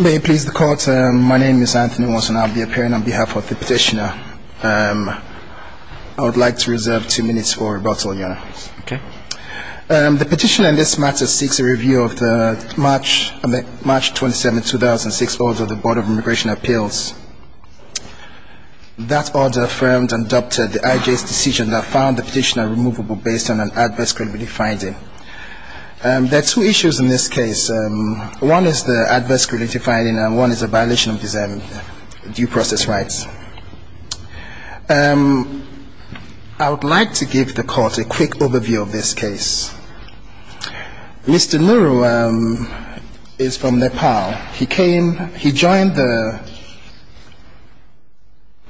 May it please the Court, my name is Anthony Watson. I'll be appearing on behalf of the petitioner. I would like to reserve two minutes for rebuttal, Your Honor. Okay. The petitioner in this matter seeks a review of the March 27, 2006, order of the Board of Immigration Appeals. That order affirmed and adopted the IJ's decision that found the petitioner removable based on an adverse credibility finding. There are two issues in this case. One is the adverse credibility finding and one is a violation of his due process rights. I would like to give the Court a quick overview of this case. Mr. Nuru is from Nepal. He came, he joined the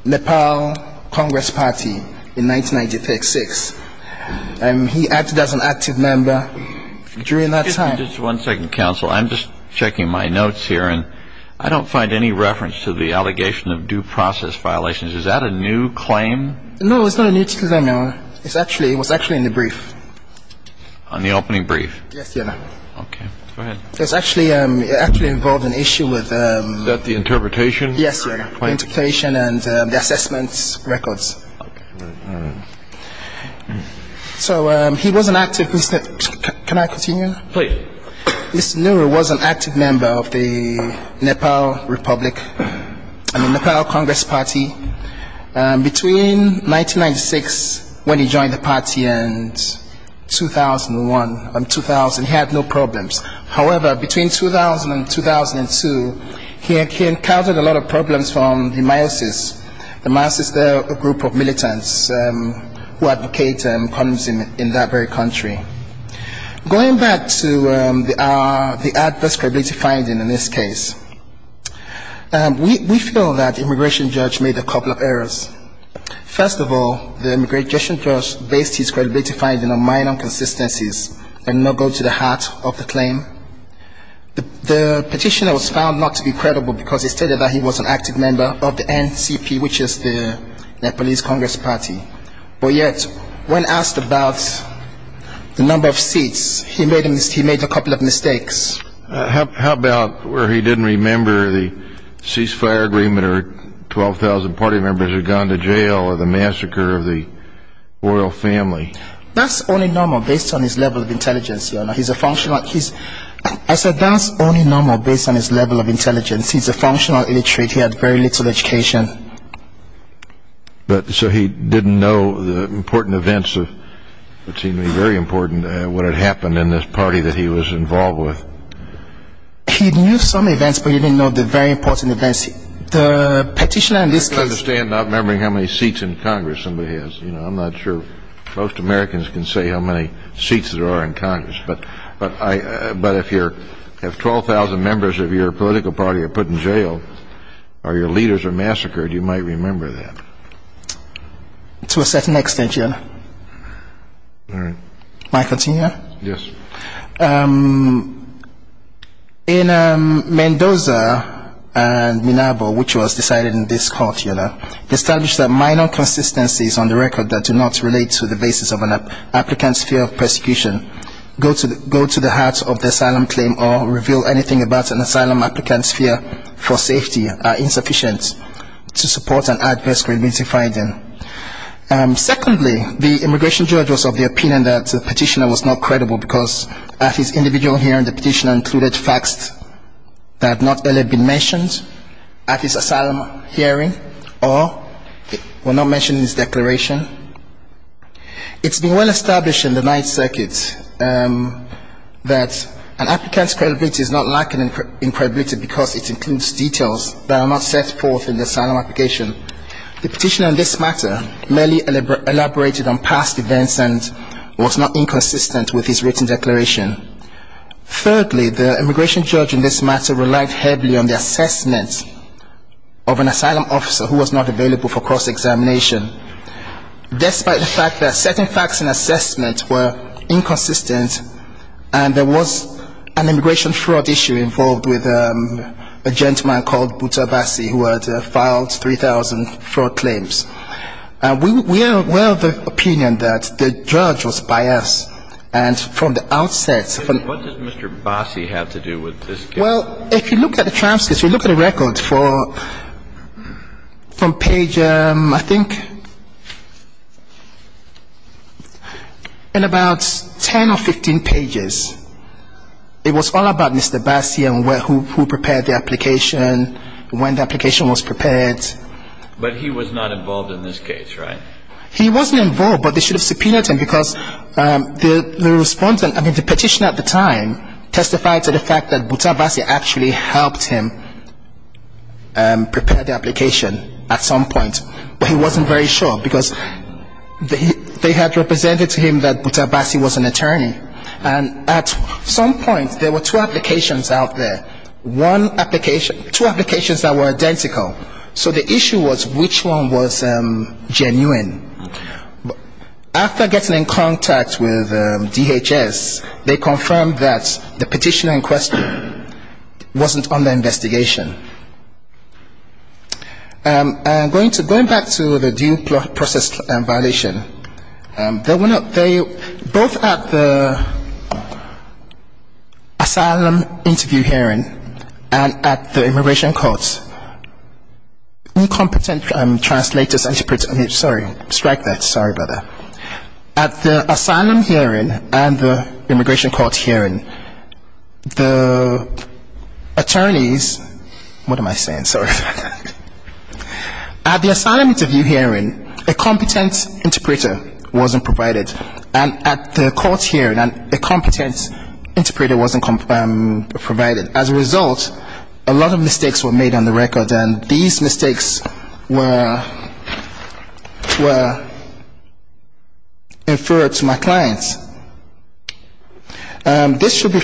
Nepal Congress Party in 1996. He acted as an active member during that time. Just one second, counsel. I'm just checking my notes here. I don't find any reference to the allegation of due process violations. Is that a new claim? No, it's not a new claim, Your Honor. It was actually in the brief. On the opening brief? Yes, Your Honor. Okay. Go ahead. It actually involved an issue with The interpretation? Yes, Your Honor. Interpretation and the assessments records. So he was an active, can I continue? Please. Mr. Nuru was an active member of the Nepal Republic, I mean the Nepal Congress Party. Between 1996 when he joined the party and 2001 and 2000, he had no problems. However, between 2000 and 2002, he encountered a lot of problems from the Miasis. The Miasis, they're a group of militants who advocate communism in that very country. Going back to the adverse credibility finding in this case, we feel that the immigration judge made a couple of errors. First of all, the immigration judge based his credibility finding on minor inconsistencies and not go to the heart of the claim. The petitioner was found not to be credible because he stated that he was an active member of the NCP, which is the Nepalese Congress Party. But yet, when asked about the number of seats, he made a couple of mistakes. How about where he didn't remember the ceasefire agreement or 12,000 party members had gone to jail or the massacre of the royal family? That's only normal based on his level of intelligence. I said that's only normal based on his level of intelligence. He's a functional illiterate. He had very little education. So he didn't know the important events of what seemed to be very important, what had happened in this party that he was involved with. He knew some events, but he didn't know the very important events. I don't understand not remembering how many seats in Congress somebody has. I'm not sure most Americans can say how many seats there are in Congress. But if 12,000 members of your political party are put in jail or your leaders are massacred, you might remember that. To a certain extent, Your Honor. All right. May I continue? Yes. Thank you. In Mendoza and Minerva, which was decided in this court, Your Honor, they established that minor consistencies on the record that do not relate to the basis of an applicant's fear of persecution, go to the heart of the asylum claim or reveal anything about an asylum applicant's fear for safety, are insufficient to support an adverse grievance in finding. Secondly, the immigration judge was of the opinion that the petitioner was not credible because at his individual hearing the petitioner included facts that had not earlier been mentioned at his asylum hearing or were not mentioned in his declaration. It's been well established in the Ninth Circuit that an applicant's credibility is not lacking in credibility because it includes details that are not set forth in the asylum application. The petitioner in this matter merely elaborated on past events and was not inconsistent with his written declaration. Thirdly, the immigration judge in this matter relied heavily on the assessment of an asylum officer who was not available for cross-examination. Despite the fact that certain facts in assessment were inconsistent and there was an immigration fraud issue involved with a gentleman called Butabasi who had filed 3,000 fraud claims, we are of the opinion that the judge was biased. And from the outset of the ---- What does Mr. Butabasi have to do with this case? Well, if you look at the transcripts, if you look at the records from page, I think, in about 10 or 15 pages, it was all about Mr. Basi and who prepared the application, when the application was prepared. But he was not involved in this case, right? He wasn't involved, but they should have subpoenaed him because the respondent, I mean, the petitioner at the time testified to the fact that Butabasi actually helped him prepare the application at some point, but he wasn't very sure because they had represented to him that Butabasi was an attorney. And at some point, there were two applications out there, one application ---- two applications that were identical. So the issue was which one was genuine. After getting in contact with DHS, they confirmed that the petitioner in question wasn't under investigation. Going back to the due process violation, both at the asylum interview hearing and at the immigration courts, incompetent translators, interpreters, I mean, sorry, strike that, sorry about that. At the asylum hearing and the immigration court hearing, the attorneys, what am I saying? Sorry about that. At the asylum interview hearing, a competent interpreter wasn't provided. And at the court hearing, a competent interpreter wasn't provided. As a result, a lot of mistakes were made on the record, and these mistakes were inferred to my clients. This should be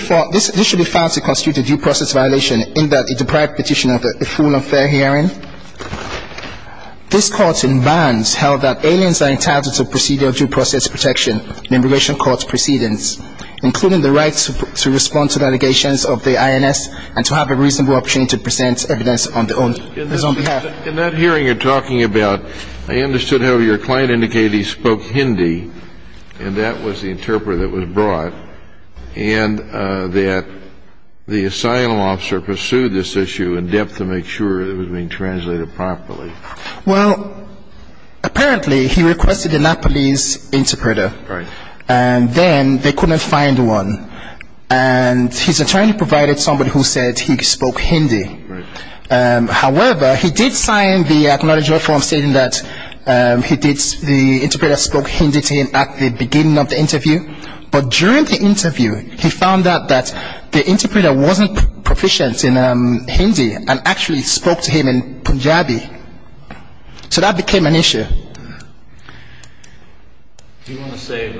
found to constitute a due process violation in that it deprived the petitioner of a full and fair hearing. This court in Barnes held that aliens are entitled to procedural due process protection in immigration court proceedings, including the right to respond to the allegations of the INS and to have a reasonable opportunity to present evidence on their own behalf. In that hearing you're talking about, I understood how your client indicated he spoke Hindi, and that was the interpreter that was brought, and that the asylum officer pursued this issue in depth to make sure it was being translated properly. Well, apparently he requested a Nepalese interpreter. Right. And then they couldn't find one. And his attorney provided somebody who said he spoke Hindi. Right. However, he did sign the acknowledgment form stating that the interpreter spoke Hindi to him at the beginning of the interview. But during the interview, he found out that the interpreter wasn't proficient in Hindi and actually spoke to him in Punjabi. So that became an issue. Do you want to save?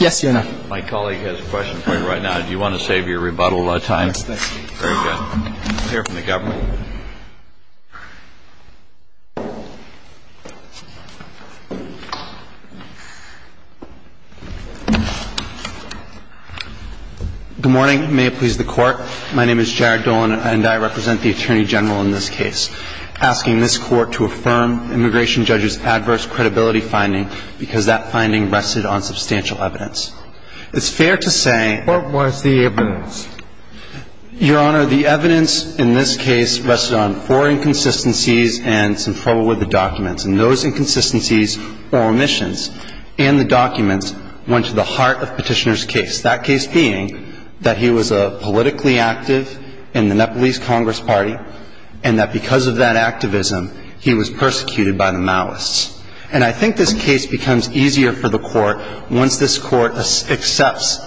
Yes, Your Honor. My colleague has a question for you right now. Do you want to save your rebuttal time? Yes, thank you. Very good. Clear from the government. Good morning. May it please the Court. My name is Jared Dolan, and I represent the Attorney General in this case, asking this Court to affirm Immigration Judge's adverse credibility finding because that finding rested on substantial evidence. It's fair to say... What was the evidence? Your Honor, the evidence in this case rested on four inconsistencies and some trouble with the documents. And those inconsistencies or omissions in the documents went to the heart of Petitioner's case, that case being that he was politically active in the Nepalese Congress Party, and that because of that activism, he was persecuted by the Maoists. And I think this case becomes easier for the Court once this Court accepts,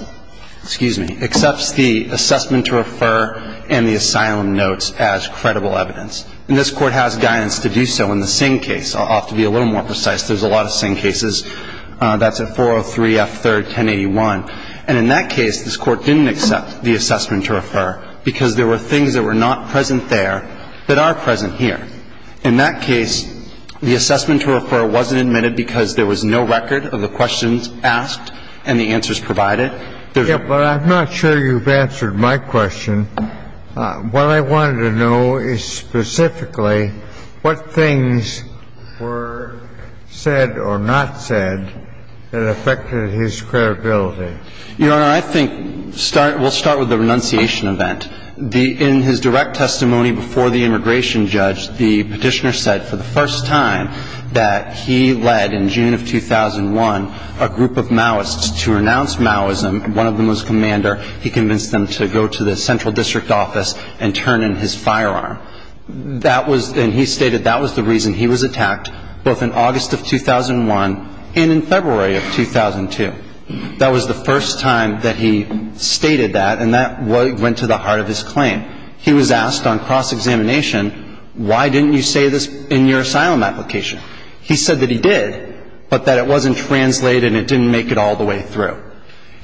excuse me, accepts the assessment to refer and the asylum notes as credible evidence. And this Court has guidance to do so in the Singh case. I'll have to be a little more precise. There's a lot of Singh cases. That's at 403 F. 3rd, 1081. And in that case, this Court didn't accept the assessment to refer because there were things that were not present there that are present here. In that case, the assessment to refer wasn't admitted because there was no record of the questions asked and the answers provided. But I'm not sure you've answered my question. What I wanted to know is specifically what things were said or not said that affected his credibility. Your Honor, I think we'll start with the renunciation event. In his direct testimony before the immigration judge, the petitioner said for the first time that he led in June of 2001 a group of Maoists to renounce Maoism. One of them was a commander. He convinced them to go to the central district office and turn in his firearm. And he stated that was the reason he was attacked both in August of 2001 and in February of 2002. That was the first time that he stated that, and that went to the heart of his claim. He was asked on cross-examination, why didn't you say this in your asylum application? He said that he did, but that it wasn't translated and it didn't make it all the way through.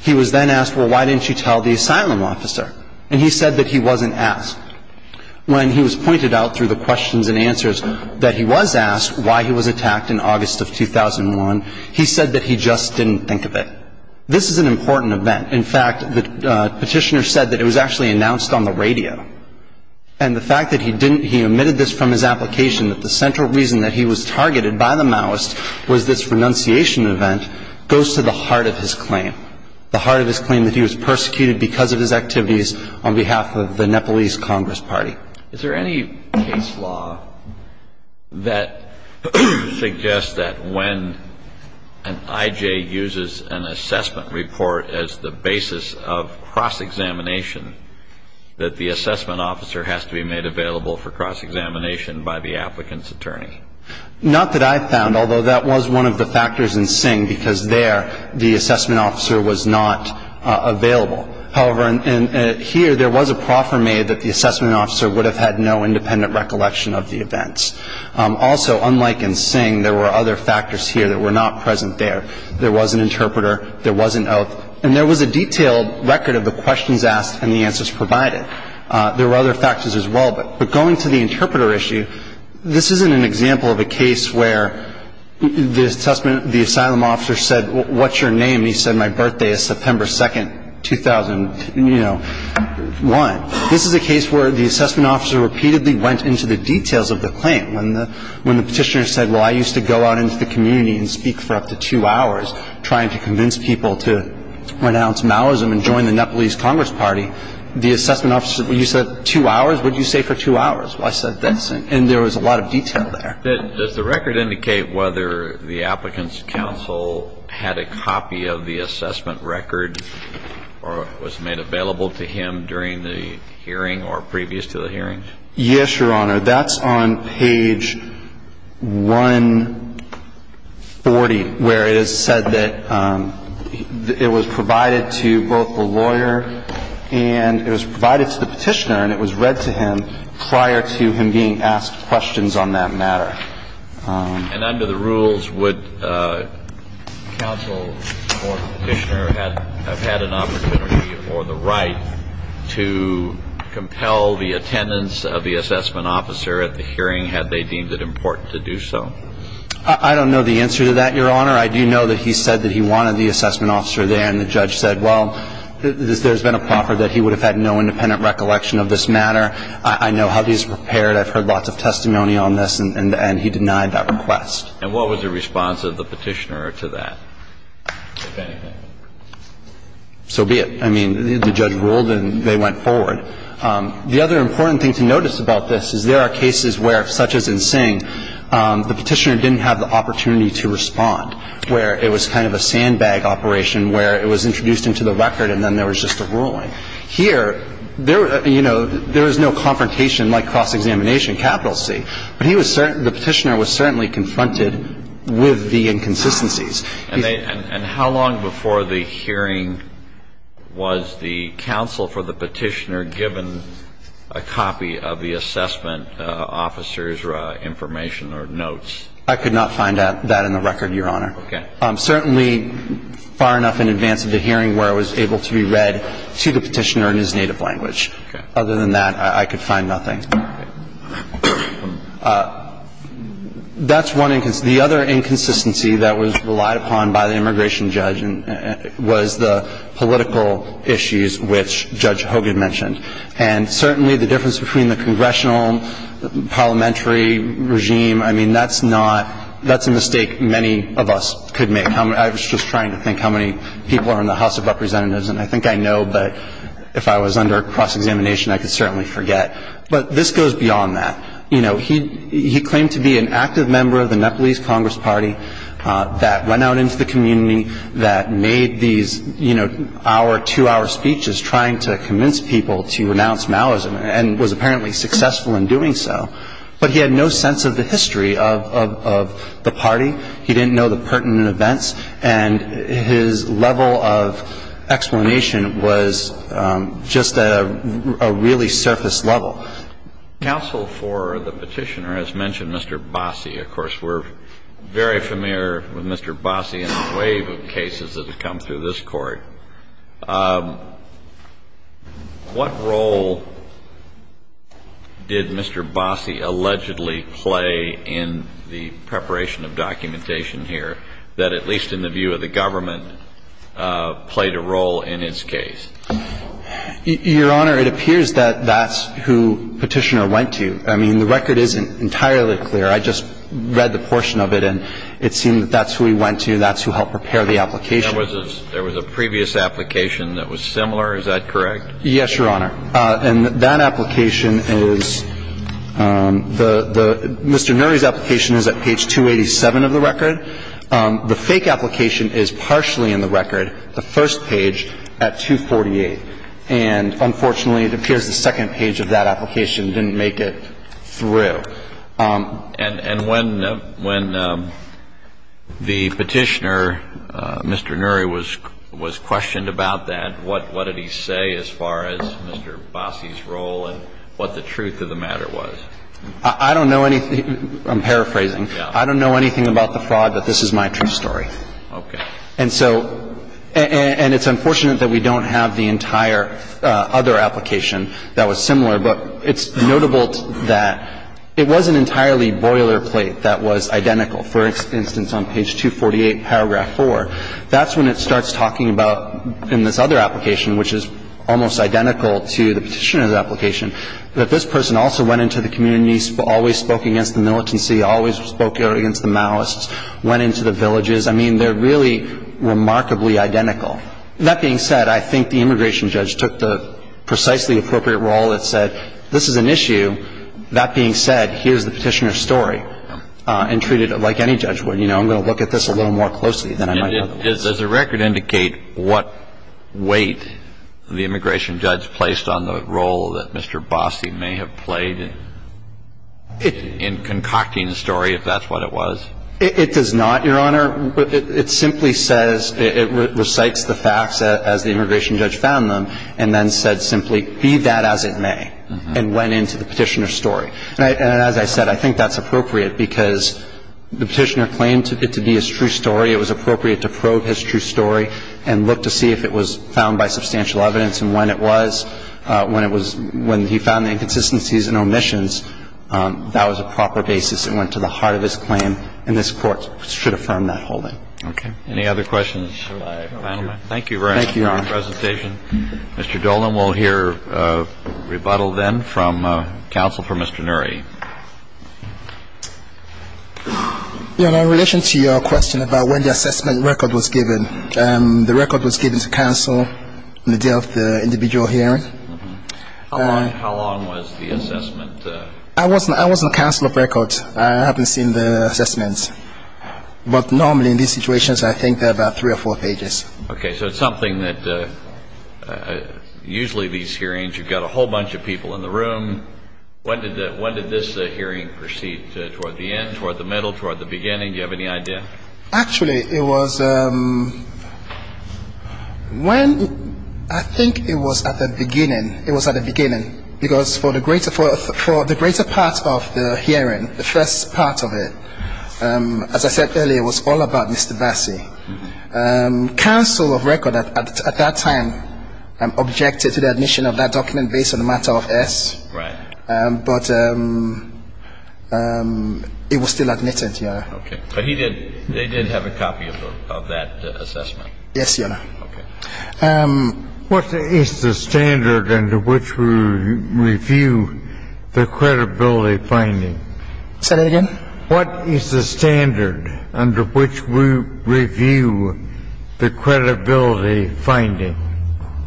He was then asked, well, why didn't you tell the asylum officer? And he said that he wasn't asked. When he was pointed out through the questions and answers that he was asked why he was attacked in August of 2001, he said that he just didn't think of it. This is an important event. In fact, the petitioner said that it was actually announced on the radio. And the fact that he omitted this from his application, that the central reason that he was targeted by the Maoists was this renunciation event, goes to the heart of his claim, the heart of his claim that he was persecuted because of his activities on behalf of the Nepalese Congress Party. Is there any case law that suggests that when an I.J. uses an assessment report as the basis of cross-examination, that the assessment officer has to be made available for cross-examination by the applicant's attorney? Not that I've found, although that was one of the factors in Sing, because there the assessment officer was not available. However, here there was a proffer made that the assessment officer would have had no independent recollection of the events. Also, unlike in Sing, there were other factors here that were not present there. There was an interpreter. There was an oath. And there was a detailed record of the questions asked and the answers provided. There were other factors as well. But going to the interpreter issue, this isn't an example of a case where the assessment, the asylum officer said, what's your name? And he said, my birthday is September 2nd, 2001. This is a case where the assessment officer repeatedly went into the details of the claim. When the petitioner said, well, I used to go out into the community and speak for up to two hours, trying to convince people to renounce Maoism and join the Nepalese Congress Party, the assessment officer, when you said two hours, what did you say for two hours? Well, I said this. And there was a lot of detail there. Does the record indicate whether the Applicant's Counsel had a copy of the assessment record or was made available to him during the hearing or previous to the hearing? Yes, Your Honor. That's on page 140, where it is said that it was provided to both the lawyer and it was provided to the petitioner and it was read to him prior to him being asked questions on that matter. And under the rules, would counsel or petitioner have had an opportunity or the right to compel the attendance of the assessment officer at the hearing had they deemed it important to do so? I don't know the answer to that, Your Honor. I do know that he said that he wanted the assessment officer there and the judge said, well, there's been a proffer that he would have had no independent recollection of this matter. I know how he's prepared. I've heard lots of testimony on this. And he denied that request. And what was the response of the petitioner to that, if anything? So be it. I mean, the judge ruled and they went forward. The other important thing to notice about this is there are cases where, such as in Singh, the petitioner didn't have the opportunity to respond, where it was kind of a sandbag operation, where it was introduced into the record and then there was just a ruling. Here, there was no confrontation like cross-examination, capital C. But the petitioner was certainly confronted with the inconsistencies. And how long before the hearing was the counsel for the petitioner given a copy of the assessment officer's information or notes? I could not find that in the record, Your Honor. Okay. Certainly far enough in advance of the hearing where it was able to be read to the petitioner in his native language. Okay. Other than that, I could find nothing. Okay. That's one inconsistency. The other inconsistency that was relied upon by the immigration judge was the political issues which Judge Hogan mentioned. And certainly the difference between the congressional, parliamentary regime, I mean, that's not, that's a mistake many of us could make. I was just trying to think how many people are in the House of Representatives. And I think I know, but if I was under cross-examination, I could certainly forget. But this goes beyond that. You know, he claimed to be an active member of the Nepalese Congress Party that went out into the community, that made these, you know, hour, two-hour speeches trying to convince people to renounce Maoism and was apparently successful in doing so. But he had no sense of the history of the party. He didn't know the pertinent events. And his level of explanation was just a really surface level. Counsel for the petitioner has mentioned Mr. Bossie. Of course, we're very familiar with Mr. Bossie in a wave of cases that have come through this Court. What role did Mr. Bossie allegedly play in the preparation of documentation here that, at least in the view of the government, played a role in his case? Your Honor, it appears that that's who Petitioner went to. I mean, the record isn't entirely clear. I just read the portion of it, and it seemed that that's who he went to. That's who helped prepare the application. There was a previous application that was similar. Is that correct? Yes, Your Honor. And that application is the Mr. Nuri's application is at page 287 of the record. The fake application is partially in the record, the first page, at 248. And unfortunately, it appears the second page of that application didn't make it through. And when the Petitioner, Mr. Nuri, was questioned about that, what did he say as far as Mr. Bossie's role and what the truth of the matter was? I don't know anything. I'm paraphrasing. I don't know anything about the fraud, but this is my true story. Okay. And so – and it's unfortunate that we don't have the entire other application that was similar, but it's notable that it was an entirely boilerplate that was identical. For instance, on page 248, paragraph 4, that's when it starts talking about, in this other application, which is almost identical to the Petitioner's application, that this person also went into the communities, always spoke against the militancy, always spoke against the Maoists, went into the villages. I mean, they're really remarkably identical. That being said, I think the immigration judge took the precisely appropriate role and said, this is an issue. That being said, here's the Petitioner's story and treated it like any judge would. You know, I'm going to look at this a little more closely than I might otherwise. And does the record indicate what weight the immigration judge placed on the role that Mr. Bossie may have played in concocting the story, if that's what it was? It does not, Your Honor. It simply says, it recites the facts as the immigration judge found them and then said simply, be that as it may, and went into the Petitioner's story. And as I said, I think that's appropriate because the Petitioner claimed it to be his true story. It was appropriate to probe his true story and look to see if it was found by substantial evidence and when it was, when he found the inconsistencies and omissions, that was a proper basis And I think that's the only thing that Mr. Bossie did not do was to decide whether the Petitioner's case went to the heart of his claim, and this Court should affirm that holding. Okay. Any other questions, gentlemen? Thank you, Your Honor. Mr. Dolan, we'll hear rebuttal then from counsel for Mr. Nuri. Your Honor, in relation to your question about when the assessment record was given, the record was given to counsel on the day of the individual hearing. How long was the assessment? I wasn't counsel of records. I haven't seen the assessments. But normally in these situations, I think they're about three or four pages. Okay. So it's something that usually these hearings, you've got a whole bunch of people in the room. When did this hearing proceed, toward the end, toward the middle, toward the beginning? Do you have any idea? Actually, it was when I think it was at the beginning. It was at the beginning because for the greater part of the hearing, the first part of it, as I said earlier, it was all about Mr. Bossie. Counsel of record at that time objected to the admission of that document based on the matter of S. Right. But it was still admitted, Your Honor. Okay. But he did have a copy of that assessment? Yes, Your Honor. Okay. What is the standard under which we review the credibility finding? Say that again? What is the standard under which we review the credibility finding?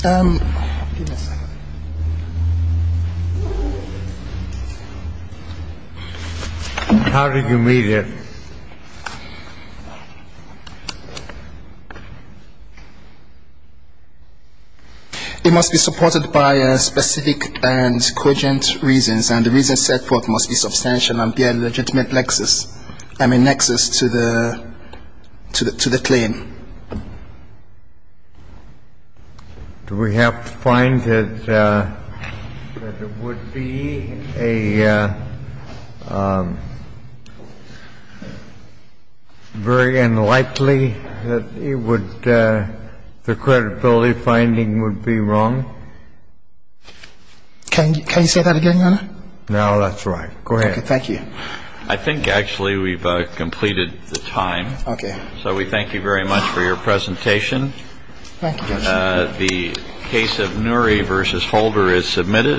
Give me a second. How do you read it? It must be supported by specific and cogent reasons, and the reasons set forth must be substantial and be a legitimate nexus to the claim. Do we have to find that it would be a very unlikely that the credibility finding would be wrong? Can you say that again, Your Honor? No, that's right. Go ahead. Okay, thank you. I think actually we've completed the time. Okay. So we thank you very much for your presentation. Thank you. The case of Nury v. Holder is submitted.